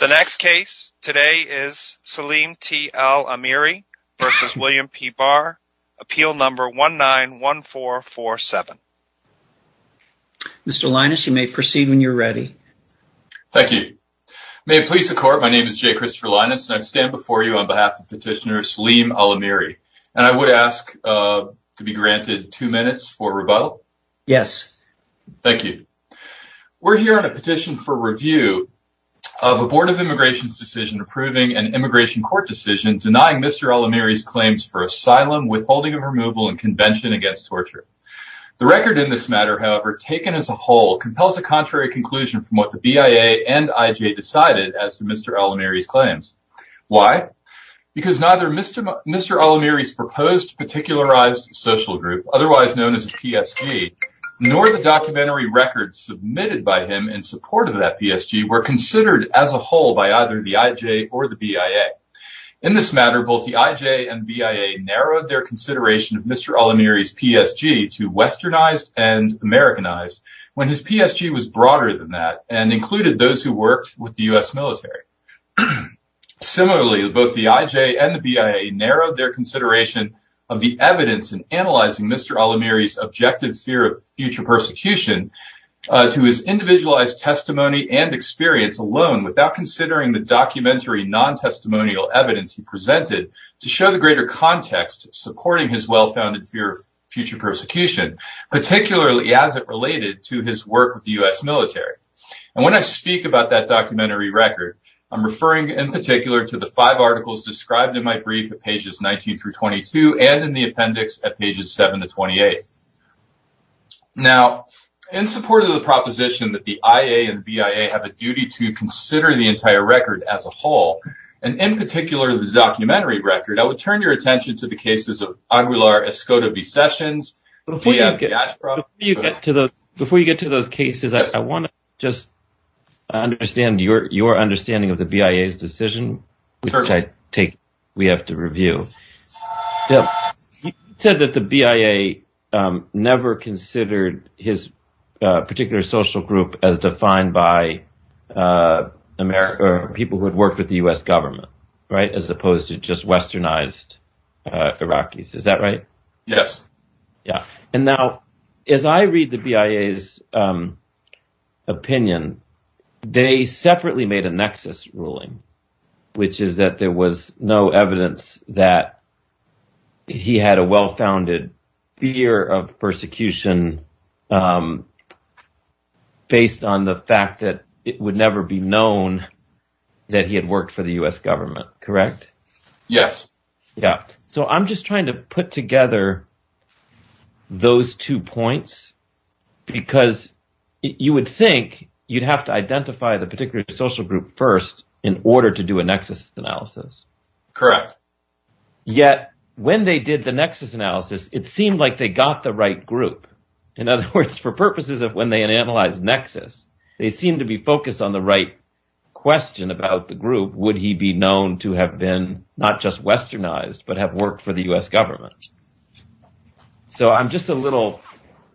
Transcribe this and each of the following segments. The next case today is Salim T. Al Amiri v. William P. Barr, appeal number 191447. Mr. Linus, you may proceed when you're ready. Thank you. May it please the court, my name is Jay Christopher Linus and I stand before you on behalf of petitioner Salim Al Amiri. And I would ask to be granted two minutes for rebuttal? Yes. Thank you. We're here on a petition for review of a Board of Immigration's decision approving an immigration court decision denying Mr. Al Amiri's claims for asylum, withholding of removal, and convention against torture. The record in this matter, however, taken as a whole, compels a contrary conclusion from what the BIA and IJ decided as to Mr. Al Amiri's claims. Why? Because neither Mr. Al Amiri's proposed particularized social group, otherwise known as a PSG, nor the documentary records submitted by him in support of that PSG were considered as a whole by either the IJ or the BIA. In this matter, both the IJ and BIA narrowed their consideration of Mr. Al Amiri's PSG to westernized and Americanized when his PSG was broader than that and included those who worked with the US military. Similarly, both the IJ and the BIA narrowed their consideration of the evidence in analyzing Mr. Al Amiri's objective fear of future persecution to his individualized testimony and experience alone without considering the documentary non-testimonial evidence he presented to show the greater context supporting his well-founded fear of future persecution, particularly as it related to his work with the US military. And when I speak about that documentary record, I'm referring in particular to the five articles described in my brief at pages 19-22 and in the appendix at pages 7-28. Now, in support of the proposition that the IJ and BIA have a duty to consider the entire record as a whole, and in particular the documentary record, I would turn your attention to the cases of Aguilar, Escoda v. Sessions, Diab v. Ashcroft. Douglas Goldstein, CFP®, is the director of Profile Investment Services and the host of the Goldstein on Gelt radio show. As I read the BIA's opinion, they separately made a nexus ruling, which is that there was no evidence that he had a well-founded fear of persecution based on the fact that it would never be known that he had worked for the US government, correct? I'm just trying to put together those two points because you would think you'd have to identify the particular social group first in order to do a nexus analysis. Yet, when they did the nexus analysis, it seemed like they got the right group. In other words, for purposes of when they analyze nexus, they seem to be focused on the right question about the group, would he be known to have been not just westernized but have worked for the US government. I'm just a little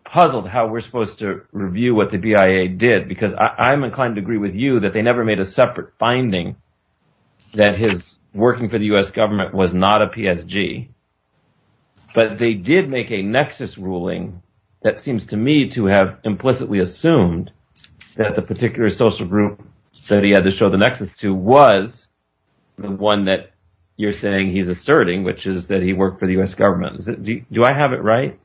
puzzled how we're supposed to review what the BIA did because I'm inclined to agree with you that they never made a separate finding that his working for the US government was not a PSG, but they did make a nexus ruling that seems to me to have implicitly assumed that the particular social group that he had to show the nexus to was the one that you're saying he's asserting, which is that he worked for the US government. Do I have it right?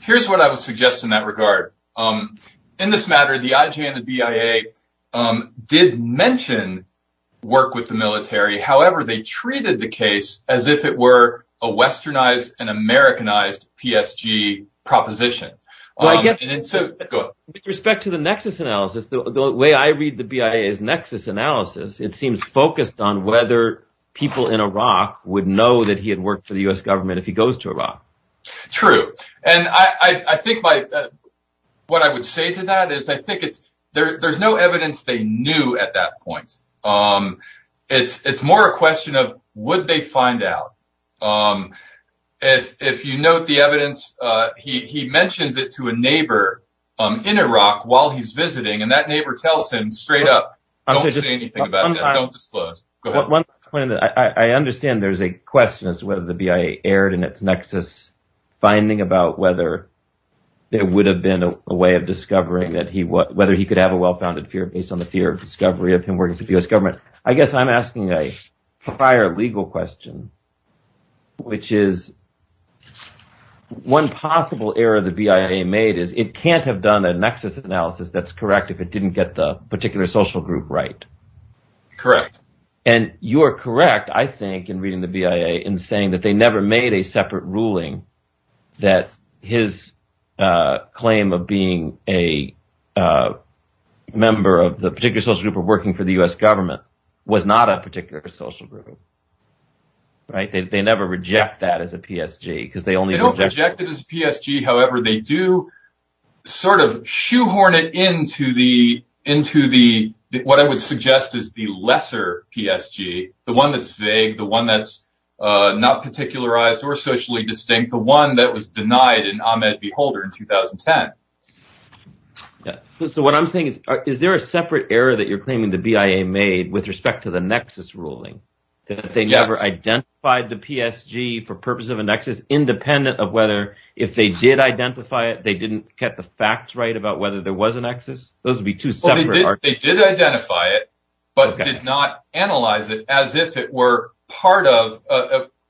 Here's what I would suggest in that regard. In this matter, the IJ and the BIA did mention work with the military. However, they treated the case as if it were a westernized and Americanized PSG proposition. With respect to the nexus analysis, the way I read the BIA's nexus analysis, it seems focused on whether people in Iraq would know that he had worked for the US government if he goes to Iraq. True. I think what I would say to that is there's no evidence they knew at that point. It's more a question of would they find out. If you note the evidence, he mentions it to a neighbor in Iraq while he's visiting and that neighbor tells him straight up, don't say anything about that, don't disclose. I understand there's a question as to whether the BIA erred in its nexus finding about whether there would have been a way of discovering whether he could have a well-founded fear based on the fear of discovery of him working for the US government. I guess I'm asking a prior legal question, which is one possible error the BIA made is it can't have done a nexus analysis that's correct if it didn't get the particular social group right. Correct. You're correct, I think, in reading the BIA in saying that they never made a separate ruling that his claim of being a member of the particular social group of working for the US government was not a particular social group. They never reject that as a PSG. They don't reject it as a PSG, however, they do sort of shoehorn it into what I would suggest is the lesser PSG, the one that's vague, the one that's not particularized or socially distinct, the one that was denied in Ahmed v. Holder in 2010. Is there a separate error that you're claiming the BIA made with respect to the nexus ruling that they never identified the PSG for purpose of a nexus independent of whether if they did identify it, they didn't get the facts right about whether there was a nexus? They did identify it, but did not analyze it as if it were part of,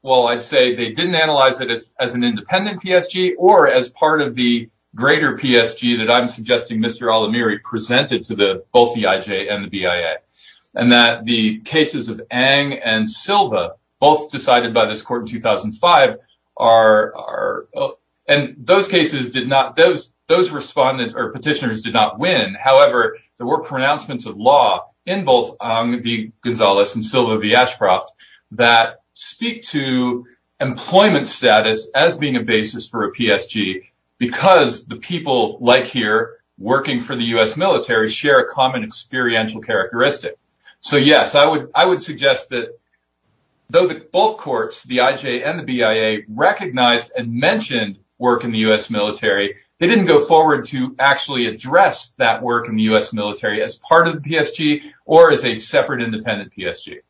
well, I'd say they didn't analyze it as an independent PSG or as part of the greater PSG that I'm suggesting Mr. Alamiri presented to both the IJ and the BIA. And that the cases of Ang and Silva, both decided by this court in 2005, and those petitioners did not win. However, there were pronouncements of law in both Ang v. Gonzalez and Silva v. Ashcroft that speak to employment status as being a basis for a PSG because the people like here working for the U.S. military share a common experiential characteristic. So yes, I would suggest that though both courts, the IJ and the BIA, recognized and mentioned work in the U.S. military, they didn't go forward to actually address that work in the U.S. military as part of the PSG or as a separate independent PSG. Q.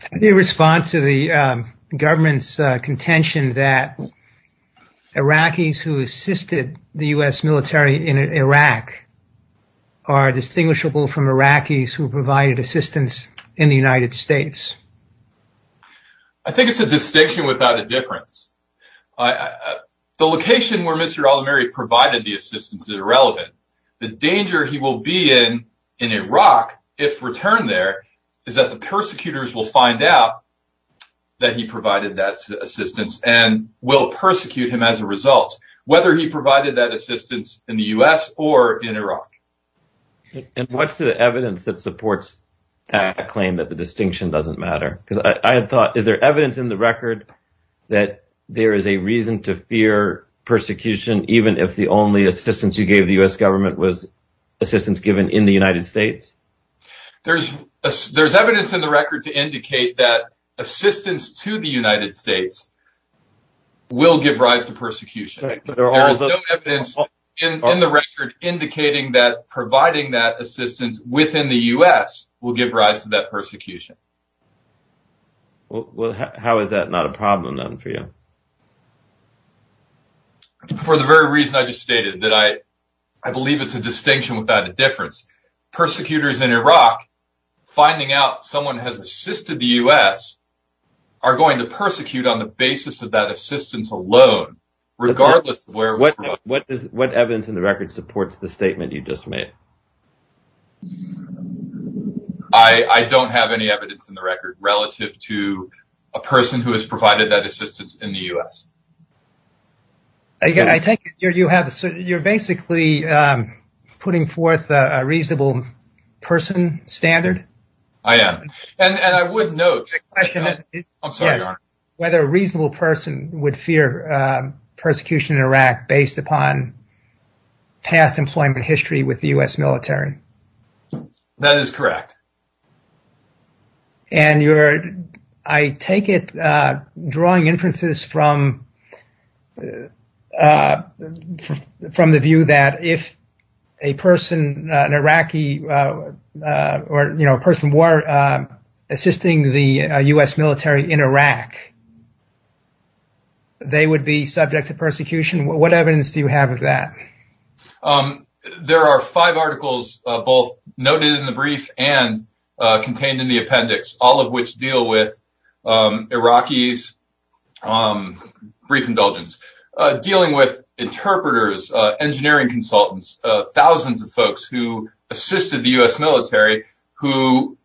Can you respond to the government's contention that Iraqis who assisted the U.S. military in Iraq are distinguishable from Iraqis who provided assistance in the United States? A. I think it's a distinction without a difference. The location where Mr. Alamiri provided the assistance is irrelevant. The danger he will be in in Iraq, if returned there, is that the persecutors will find out that he provided that assistance and will persecute him as a result, whether he provided that assistance in the U.S. or in Iraq. Q. Is there evidence in the record that there is a reason to fear persecution even if the only assistance you gave the U.S. government was assistance given in the United States? A. There's evidence in the record to indicate that assistance to the United States will give rise to persecution. There is no evidence in the record indicating that providing that assistance within the U.S. will give rise to that persecution. Q. How is that not a problem then for you? A. For the very reason I just stated, I believe it's a distinction without a difference. Persecutors in Iraq finding out someone has assisted the U.S. are going to persecute on the basis of that assistance alone, regardless of where it was provided. Q. What evidence in the record supports the statement you just made? A. I don't have any evidence in the record relative to a person who has provided that assistance in the U.S. A. That is correct. Q. I take it, drawing inferences from the view that if a person was assisting the U.S. military in Iraq, they would be subject to persecution. What evidence do you have of that? A. There are five articles both noted in the brief and contained in the appendix, all of which deal with Iraqi's brief indulgence, dealing with interpreters, engineering consultants, thousands of folks who assisted the U.S. military who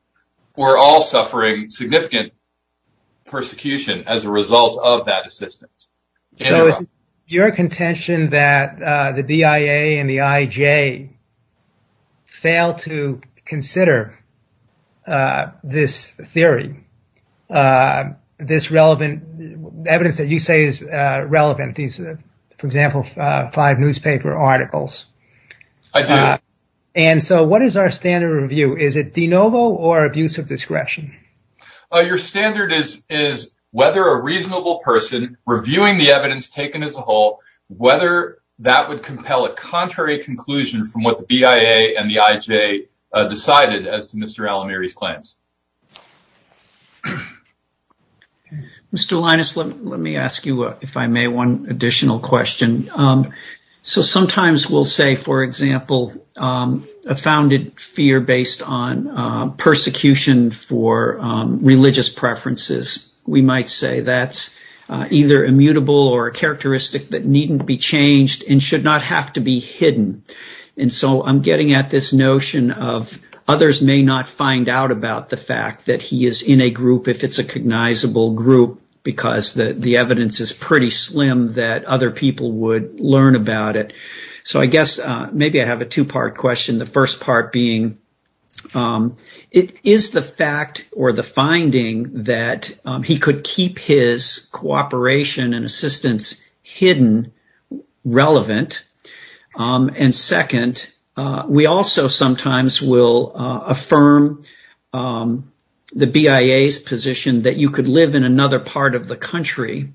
were all suffering significant persecution as a result of that assistance. Q. Is it your contention that the BIA and the IJ fail to consider this theory, this relevant evidence that you say is relevant, for example, five newspaper articles? A. I do. Q. What is our standard review? Is it de novo or abuse of discretion? A. Your standard is whether a reasonable person reviewing the evidence taken as a whole, whether that would compel a contrary conclusion from what the BIA and the IJ decided as to Mr. Alamiri's claims. Q. Sometimes we'll say, for example, a founded fear based on persecution for religious preferences. We might say that's either immutable or a characteristic that needn't be changed and should not have to be hidden. And so I'm getting at this notion of others may not find out about the fact that he is in a group if it's a cognizable group because the evidence is pretty slim that other people would learn about it. So I guess maybe I have a two part question. The first part being, is the fact or the finding that he could keep his cooperation and assistance hidden relevant? And second, we also sometimes will affirm the BIA's position that you could live in another part of the country.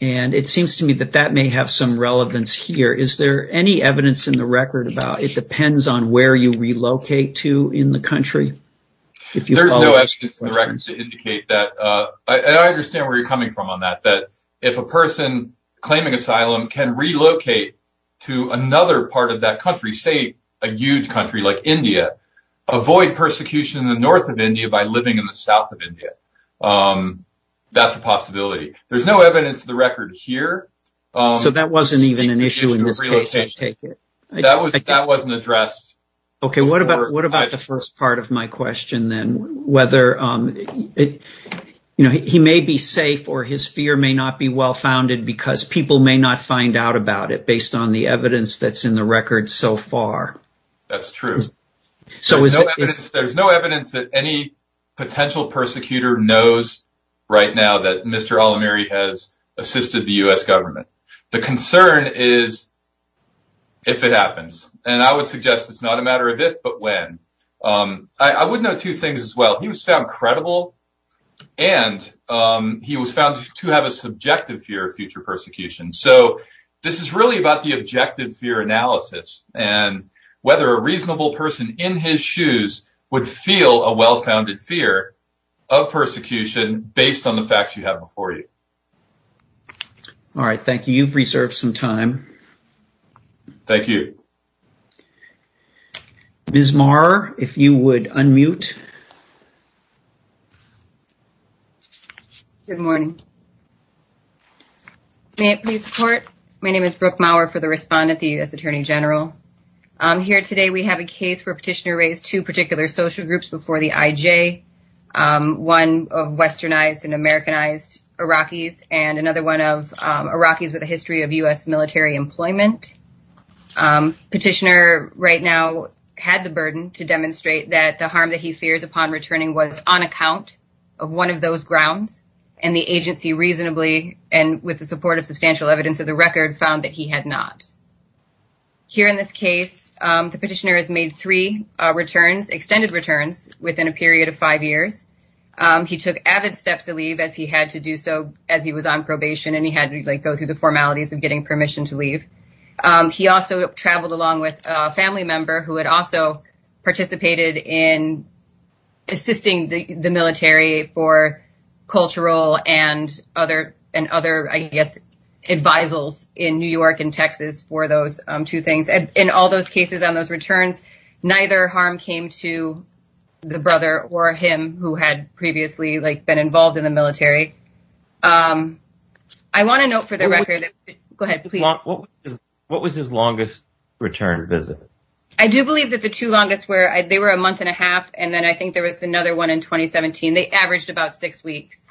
And it seems to me that that may have some relevance here. Is there any evidence in the record about it depends on where you relocate to in the country? A. There's no evidence in the records to indicate that. I understand where you're coming from on that. If a person claiming asylum can relocate to another part of that country, say a huge country like India, avoid persecution in the north of India by living in the south of India. That's a possibility. There's no evidence in the record here. B. So that wasn't even an issue in this case, I take it. A. That wasn't addressed. B. Okay, what about the first part of my question then? Whether he may be safe or his fear may not be well founded because people may not find out about it based on the evidence that's in the record so far. A. That's true. There's no evidence that any potential persecutor knows right now that Mr. Alamiri has assisted the U.S. government. The concern is if it happens. And I would suggest it's not a matter of if but when. I would note two things as well. He was found credible and he was found to have a subjective fear of future persecution. So this is really about the objective fear analysis and whether a reasonable person in his shoes would feel a well-founded fear of persecution based on the facts you have before you. B. All right, thank you. You've reserved some time. A. Thank you. B. Ms. Maher, if you would unmute. B. Good morning. May it please the court? My name is Brooke Maher for the respondent, the U.S. Attorney General. Here today we have a case where Petitioner raised two particular social groups before the IJ. One of westernized and Americanized Iraqis and another one of Iraqis with a history of U.S. military employment. Petitioner right now had the burden to demonstrate that the harm that he fears upon returning was on account of one of those grounds. And the agency reasonably and with the support of substantial evidence of the record found that he had not. Here in this case, the petitioner has made three returns, extended returns, within a period of five years. He took avid steps to leave as he had to do so as he was on probation and he had to go through the formalities of getting permission to leave. He also traveled along with a family member who had also participated in assisting the military for cultural and other, I guess, advisals in New York and Texas for those two things. In all those cases on those returns, neither harm came to the brother or him who had previously been involved in the military. I want a note for the record. Go ahead, please. What was his longest return visit? I do believe that the two longest were, they were a month and a half and then I think there was another one in 2017. They averaged about six weeks.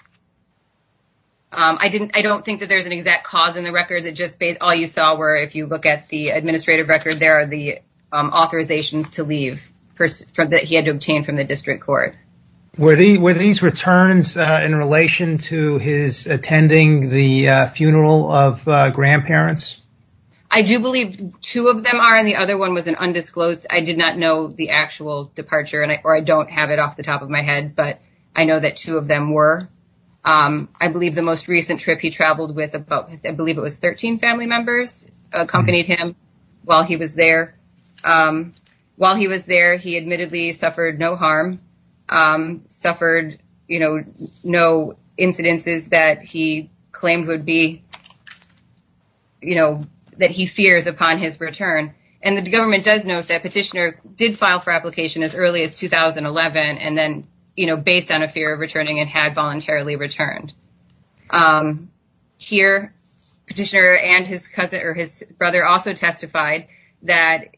I don't think that there's an exact cause in the records. It just based, all you saw were, if you look at the administrative record, there are the authorizations to leave that he had to obtain from the district court. Were these returns in relation to his attending the funeral of grandparents? I do believe two of them are and the other one was an undisclosed. I did not know the actual departure or I don't have it off the top of my head, but I know that two of them were. I believe the most recent trip he traveled with, I believe it was 13 family members, accompanied him while he was there. He admittedly suffered no harm, suffered, you know, no incidences that he claimed would be, you know, that he fears upon his return. And the government does note that petitioner did file for application as early as 2011. And then, you know, based on a fear of returning and had voluntarily returned. Here, petitioner and his cousin or his brother also testified that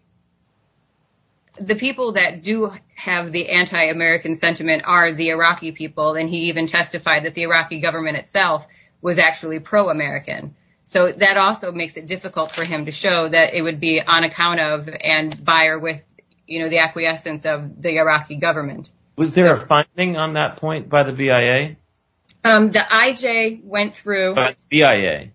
the people that do have the anti-American sentiment are the Iraqi people. And he even testified that the Iraqi government itself was actually pro-American. So that also makes it difficult for him to show that it would be on account of and buyer with, you know, the acquiescence of the Iraqi government. Was there a finding on that point by the BIA? The IJ went through the BIA,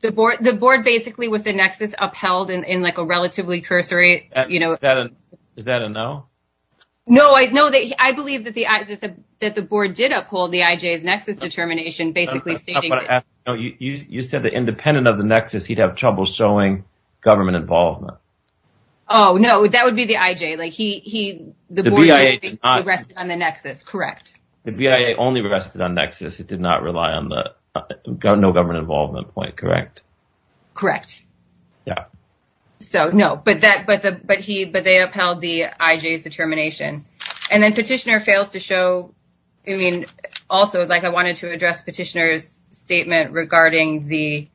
the board, the board basically with the nexus upheld in like a relatively cursory. You know that. Is that a no? No, I know that I believe that the that the board did uphold the IJ's nexus determination, basically stating. You said the independent of the nexus, he'd have trouble showing government involvement. Oh, no, that would be the IJ. Like he the BIA rested on the nexus. Correct. The BIA only rested on nexus. It did not rely on the no government involvement point. Correct. Correct. Yeah. So, no, but that but the but he but they upheld the IJ's determination and then petitioner fails to show. I mean, also, like I wanted to address petitioner's statement regarding the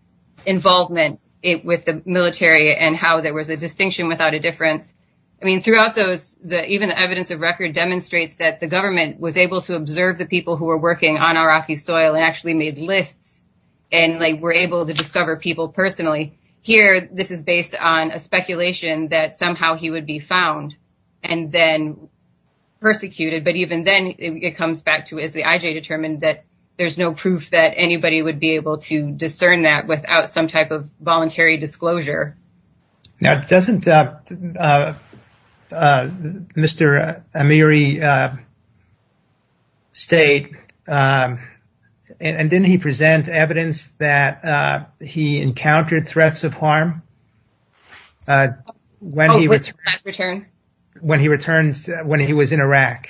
involvement with the military and how there was a distinction without a difference. I mean, throughout those, even the evidence of record demonstrates that the government was able to observe the people who were working on Iraqi soil and actually made lists and were able to discover people personally. Here, this is based on a speculation that somehow he would be found and then persecuted. But even then, it comes back to is the IJ determined that there's no proof that anybody would be able to discern that without some type of voluntary disclosure. Now, doesn't Mr. Amiri state and didn't he present evidence that he encountered threats of harm when he returned when he was in Iraq?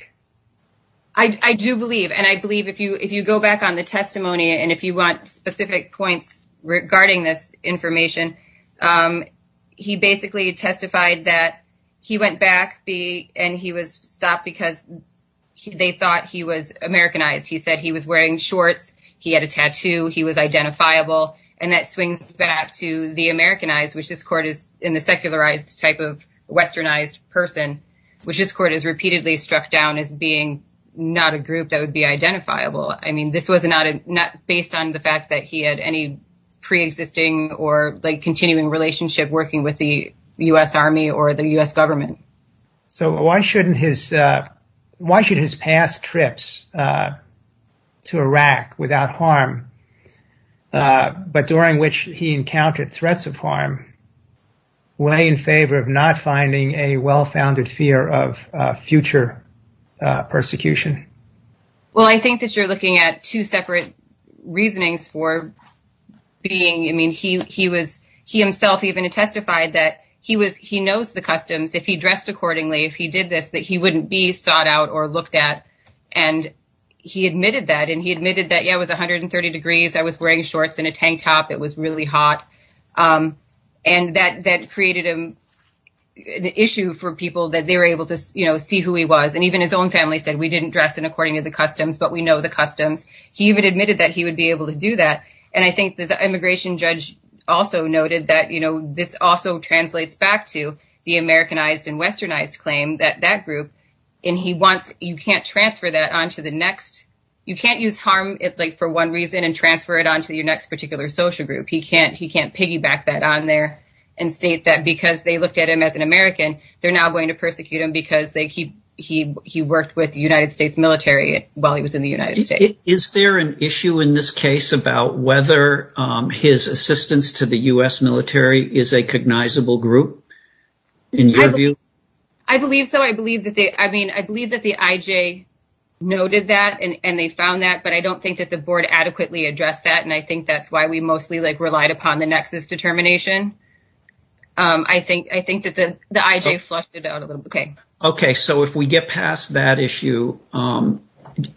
I do believe and I believe if you if you go back on the testimony and if you want specific points regarding this information, he basically testified that he went back and he was stopped because they thought he was Americanized. He said he was wearing shorts. He had a tattoo. He was identifiable. And that swings back to the Americanized, which this court is in the secularized type of westernized person, which this court is repeatedly struck down as being not a group that would be identifiable. I mean, this was not based on the fact that he had any preexisting or continuing relationship working with the U.S. Army or the U.S. government. So why shouldn't his why should his past trips to Iraq without harm, but during which he encountered threats of harm? Way in favor of not finding a well-founded fear of future persecution. Well, I think that you're looking at two separate reasonings for being I mean, he he was he himself even testified that he was he knows the customs if he dressed accordingly, if he did this, that he wouldn't be sought out or looked at. And he admitted that and he admitted that, yeah, it was 130 degrees. I was wearing shorts and a tank top. It was really hot. And that that created an issue for people that they were able to see who he was. And even his own family said we didn't dress in according to the customs, but we know the customs. He even admitted that he would be able to do that. And I think that the immigration judge also noted that this also translates back to the Americanized and westernized claim that that group and he wants you can't transfer that onto the next. You can't use harm for one reason and transfer it onto your next particular social group. He can't he can't piggyback that on there and state that because they looked at him as an American, they're now going to persecute him because they keep he he worked with the United States military while he was in the United States. Is there an issue in this case about whether his assistance to the U.S. military is a cognizable group? I believe so. I believe that they I mean, I believe that the IJ noted that and they found that. But I don't think that the board adequately addressed that. And I think that's why we mostly relied upon the nexus determination. I think I think that the IJ flushed it out a little bit. OK, so if we get past that issue,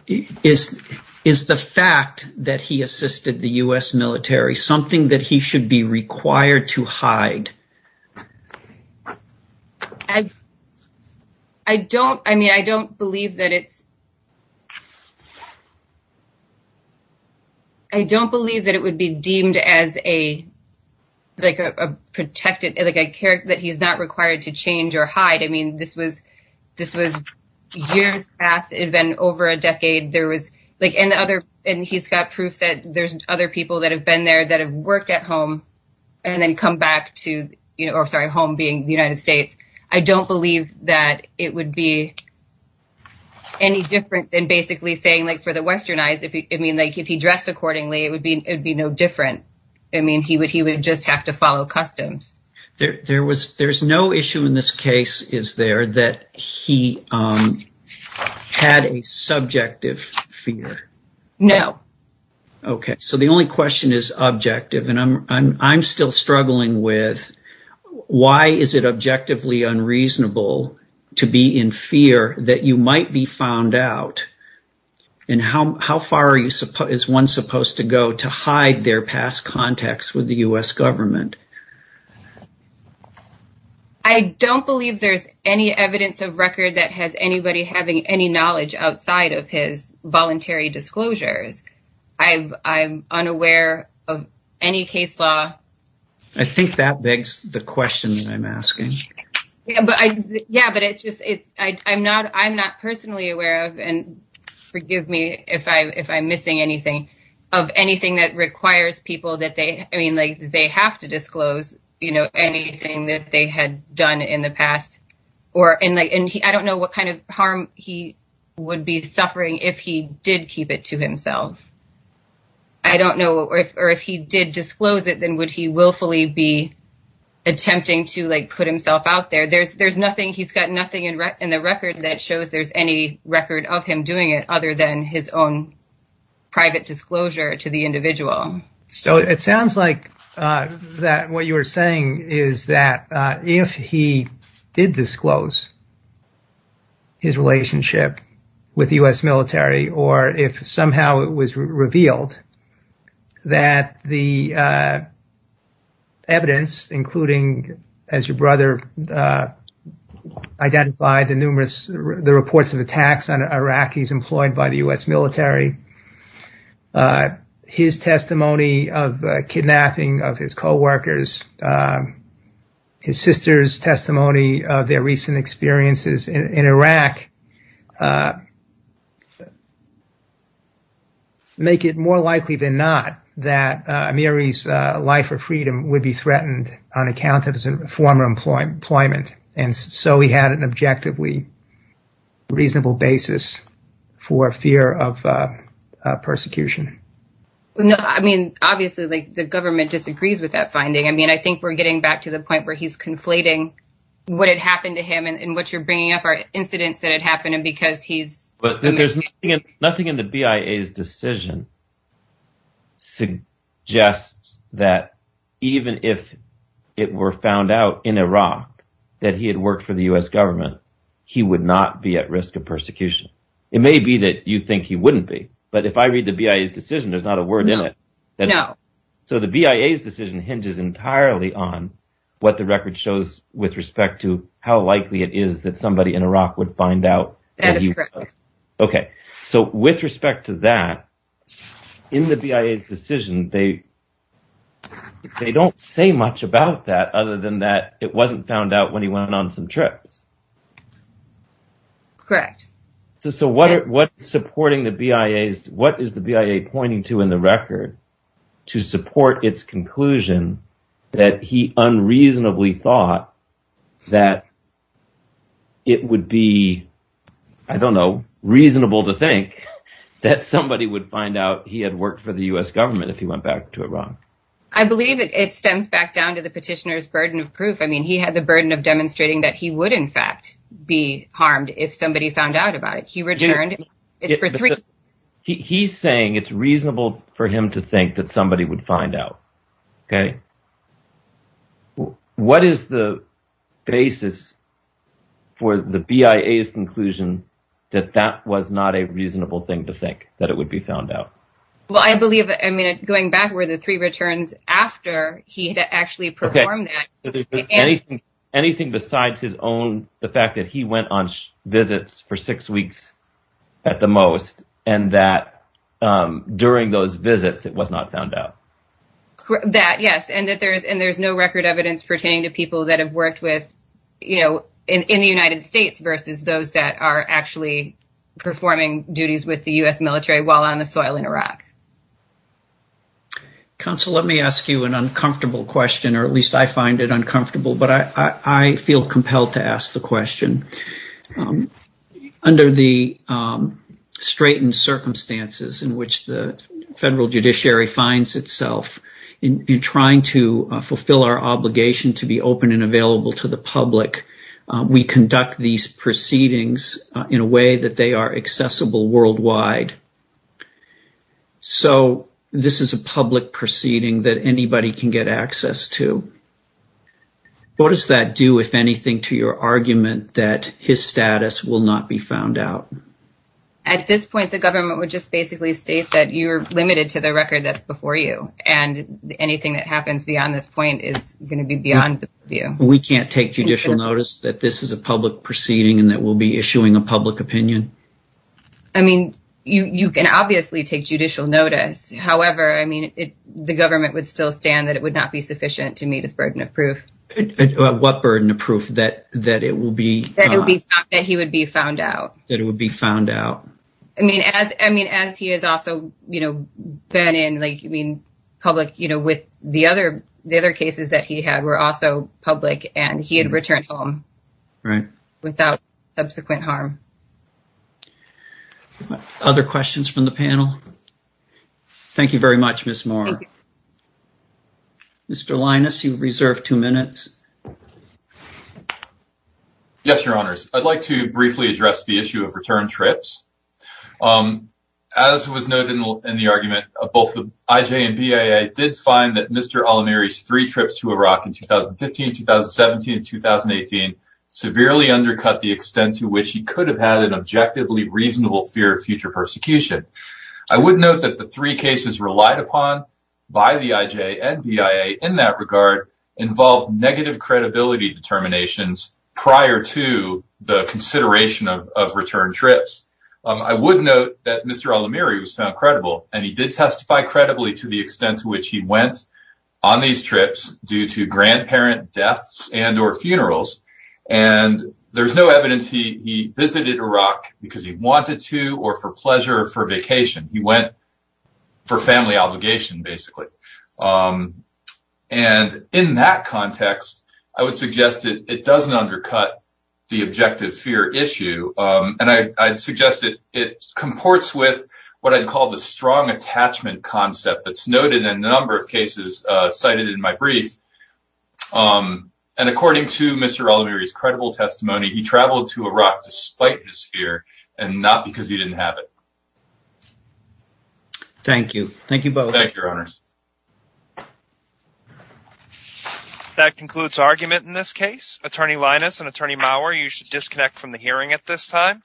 is is the fact that he assisted the U.S. military something that he should be required to hide? I don't I mean, I don't believe that it's. I don't believe that it would be deemed as a like a protected like a character that he's not required to change or hide. I mean, this was this was years after it had been over a decade. There was like any other. And he's got proof that there's other people that have been there that have worked at home and then come back to, you know, sorry, home being the United States. I don't believe that it would be any different than basically saying like for the Western eyes, I mean, like if he dressed accordingly, it would be it would be no different. I mean, he would he would just have to follow customs. There was there's no issue in this case. Is there that he had a subjective fear? No. OK, so the only question is objective. And I'm I'm still struggling with why is it objectively unreasonable to be in fear that you might be found out? And how how far are you as one supposed to go to hide their past contacts with the U.S. government? I don't believe there's any evidence of record that has anybody having any knowledge outside of his voluntary disclosures. I'm I'm unaware of any case law. I think that begs the question I'm asking. Yeah, but I yeah, but it's just it's I'm not I'm not personally aware of. And forgive me if I if I'm missing anything of anything that requires people that they I mean, like they have to disclose, you know, anything that they had done in the past or in. And I don't know what kind of harm he would be suffering if he did keep it to himself. I don't know if or if he did disclose it, then would he willfully be attempting to put himself out there? There's there's nothing he's got nothing in the record that shows there's any record of him doing it other than his own private disclosure to the individual. So it sounds like that what you are saying is that if he did disclose. His relationship with the U.S. military, or if somehow it was revealed that the. Evidence, including as your brother identified the numerous the reports of attacks on Iraqis employed by the U.S. military. His testimony of kidnapping of his co-workers, his sister's testimony of their recent experiences in Iraq. Make it more likely than not that Mary's life or freedom would be threatened on account of his former employment. And so he had an objectively reasonable basis for fear of persecution. No, I mean, obviously, the government disagrees with that finding. I mean, I think we're getting back to the point where he's conflating what had happened to him and what you're bringing up are incidents that had happened. But there's nothing in the BIA's decision suggests that even if it were found out in Iraq that he had worked for the U.S. government, he would not be at risk of persecution. It may be that you think he wouldn't be. But if I read the BIA's decision, there's not a word in it. So the BIA's decision hinges entirely on what the record shows with respect to how likely it is that somebody in Iraq would find out. OK, so with respect to that, in the BIA's decision, they don't say much about that other than that it wasn't found out when he went on some trips. Correct. So what is the BIA pointing to in the record to support its conclusion that he unreasonably thought that it would be, I don't know, reasonable to think that somebody would find out he had worked for the U.S. government if he went back to Iraq? I believe it stems back down to the petitioner's burden of proof. I mean, he had the burden of demonstrating that he would, in fact, be harmed if somebody found out about it. He returned it for three. He's saying it's reasonable for him to think that somebody would find out. OK. What is the basis for the BIA's conclusion that that was not a reasonable thing to think that it would be found out? Well, I believe, I mean, going back where the three returns after he had actually performed that. Anything besides his own, the fact that he went on visits for six weeks at the most and that during those visits it was not found out. That yes, and that there is and there's no record evidence pertaining to people that have worked with, you know, in the United States versus those that are actually performing duties with the U.S. military while on the soil in Iraq. Counsel, let me ask you an uncomfortable question, or at least I find it uncomfortable, but I feel compelled to ask the question. Under the straightened circumstances in which the federal judiciary finds itself in trying to fulfill our obligation to be open and available to the public, we conduct these proceedings in a way that they are accessible worldwide. So this is a public proceeding that anybody can get access to. What does that do, if anything, to your argument that his status will not be found out? At this point, the government would just basically state that you're limited to the record that's before you and anything that happens beyond this point is going to be beyond you. We can't take judicial notice that this is a public proceeding and that we'll be issuing a public opinion. I mean, you can obviously take judicial notice. However, I mean, the government would still stand that it would not be sufficient to meet his burden of proof. What burden of proof that it will be? That he would be found out. That it would be found out. I mean, as he has also been in public with the other cases that he had were also public and he had returned home without subsequent harm. Other questions from the panel? Thank you very much, Ms. Moore. Mr. Linus, you reserve two minutes. Yes, Your Honors. I'd like to briefly address the issue of return trips. As was noted in the argument, both the IJ and BIA did find that Mr. Alamiri's three trips to Iraq in 2015, 2017, and 2018 severely undercut the extent to which he could have had an objectively reasonable fear of future persecution. I would note that the three cases relied upon by the IJ and BIA in that regard involved negative credibility determinations prior to the consideration of return trips. I would note that Mr. Alamiri was found credible, and he did testify credibly to the extent to which he went on these trips due to grandparent deaths and or funerals. And there's no evidence he visited Iraq because he wanted to or for pleasure or for vacation. He went for family obligation, basically. And in that context, I would suggest that it doesn't undercut the objective fear issue. And I'd suggest that it comports with what I'd call the strong attachment concept that's noted in a number of cases cited in my brief. And according to Mr. Alamiri's credible testimony, he traveled to Iraq despite his fear and not because he didn't have it. Thank you. Thank you both. Thank you, Your Honors. That concludes argument in this case. Attorney Linus and Attorney Maurer, you should disconnect from the hearing at this time.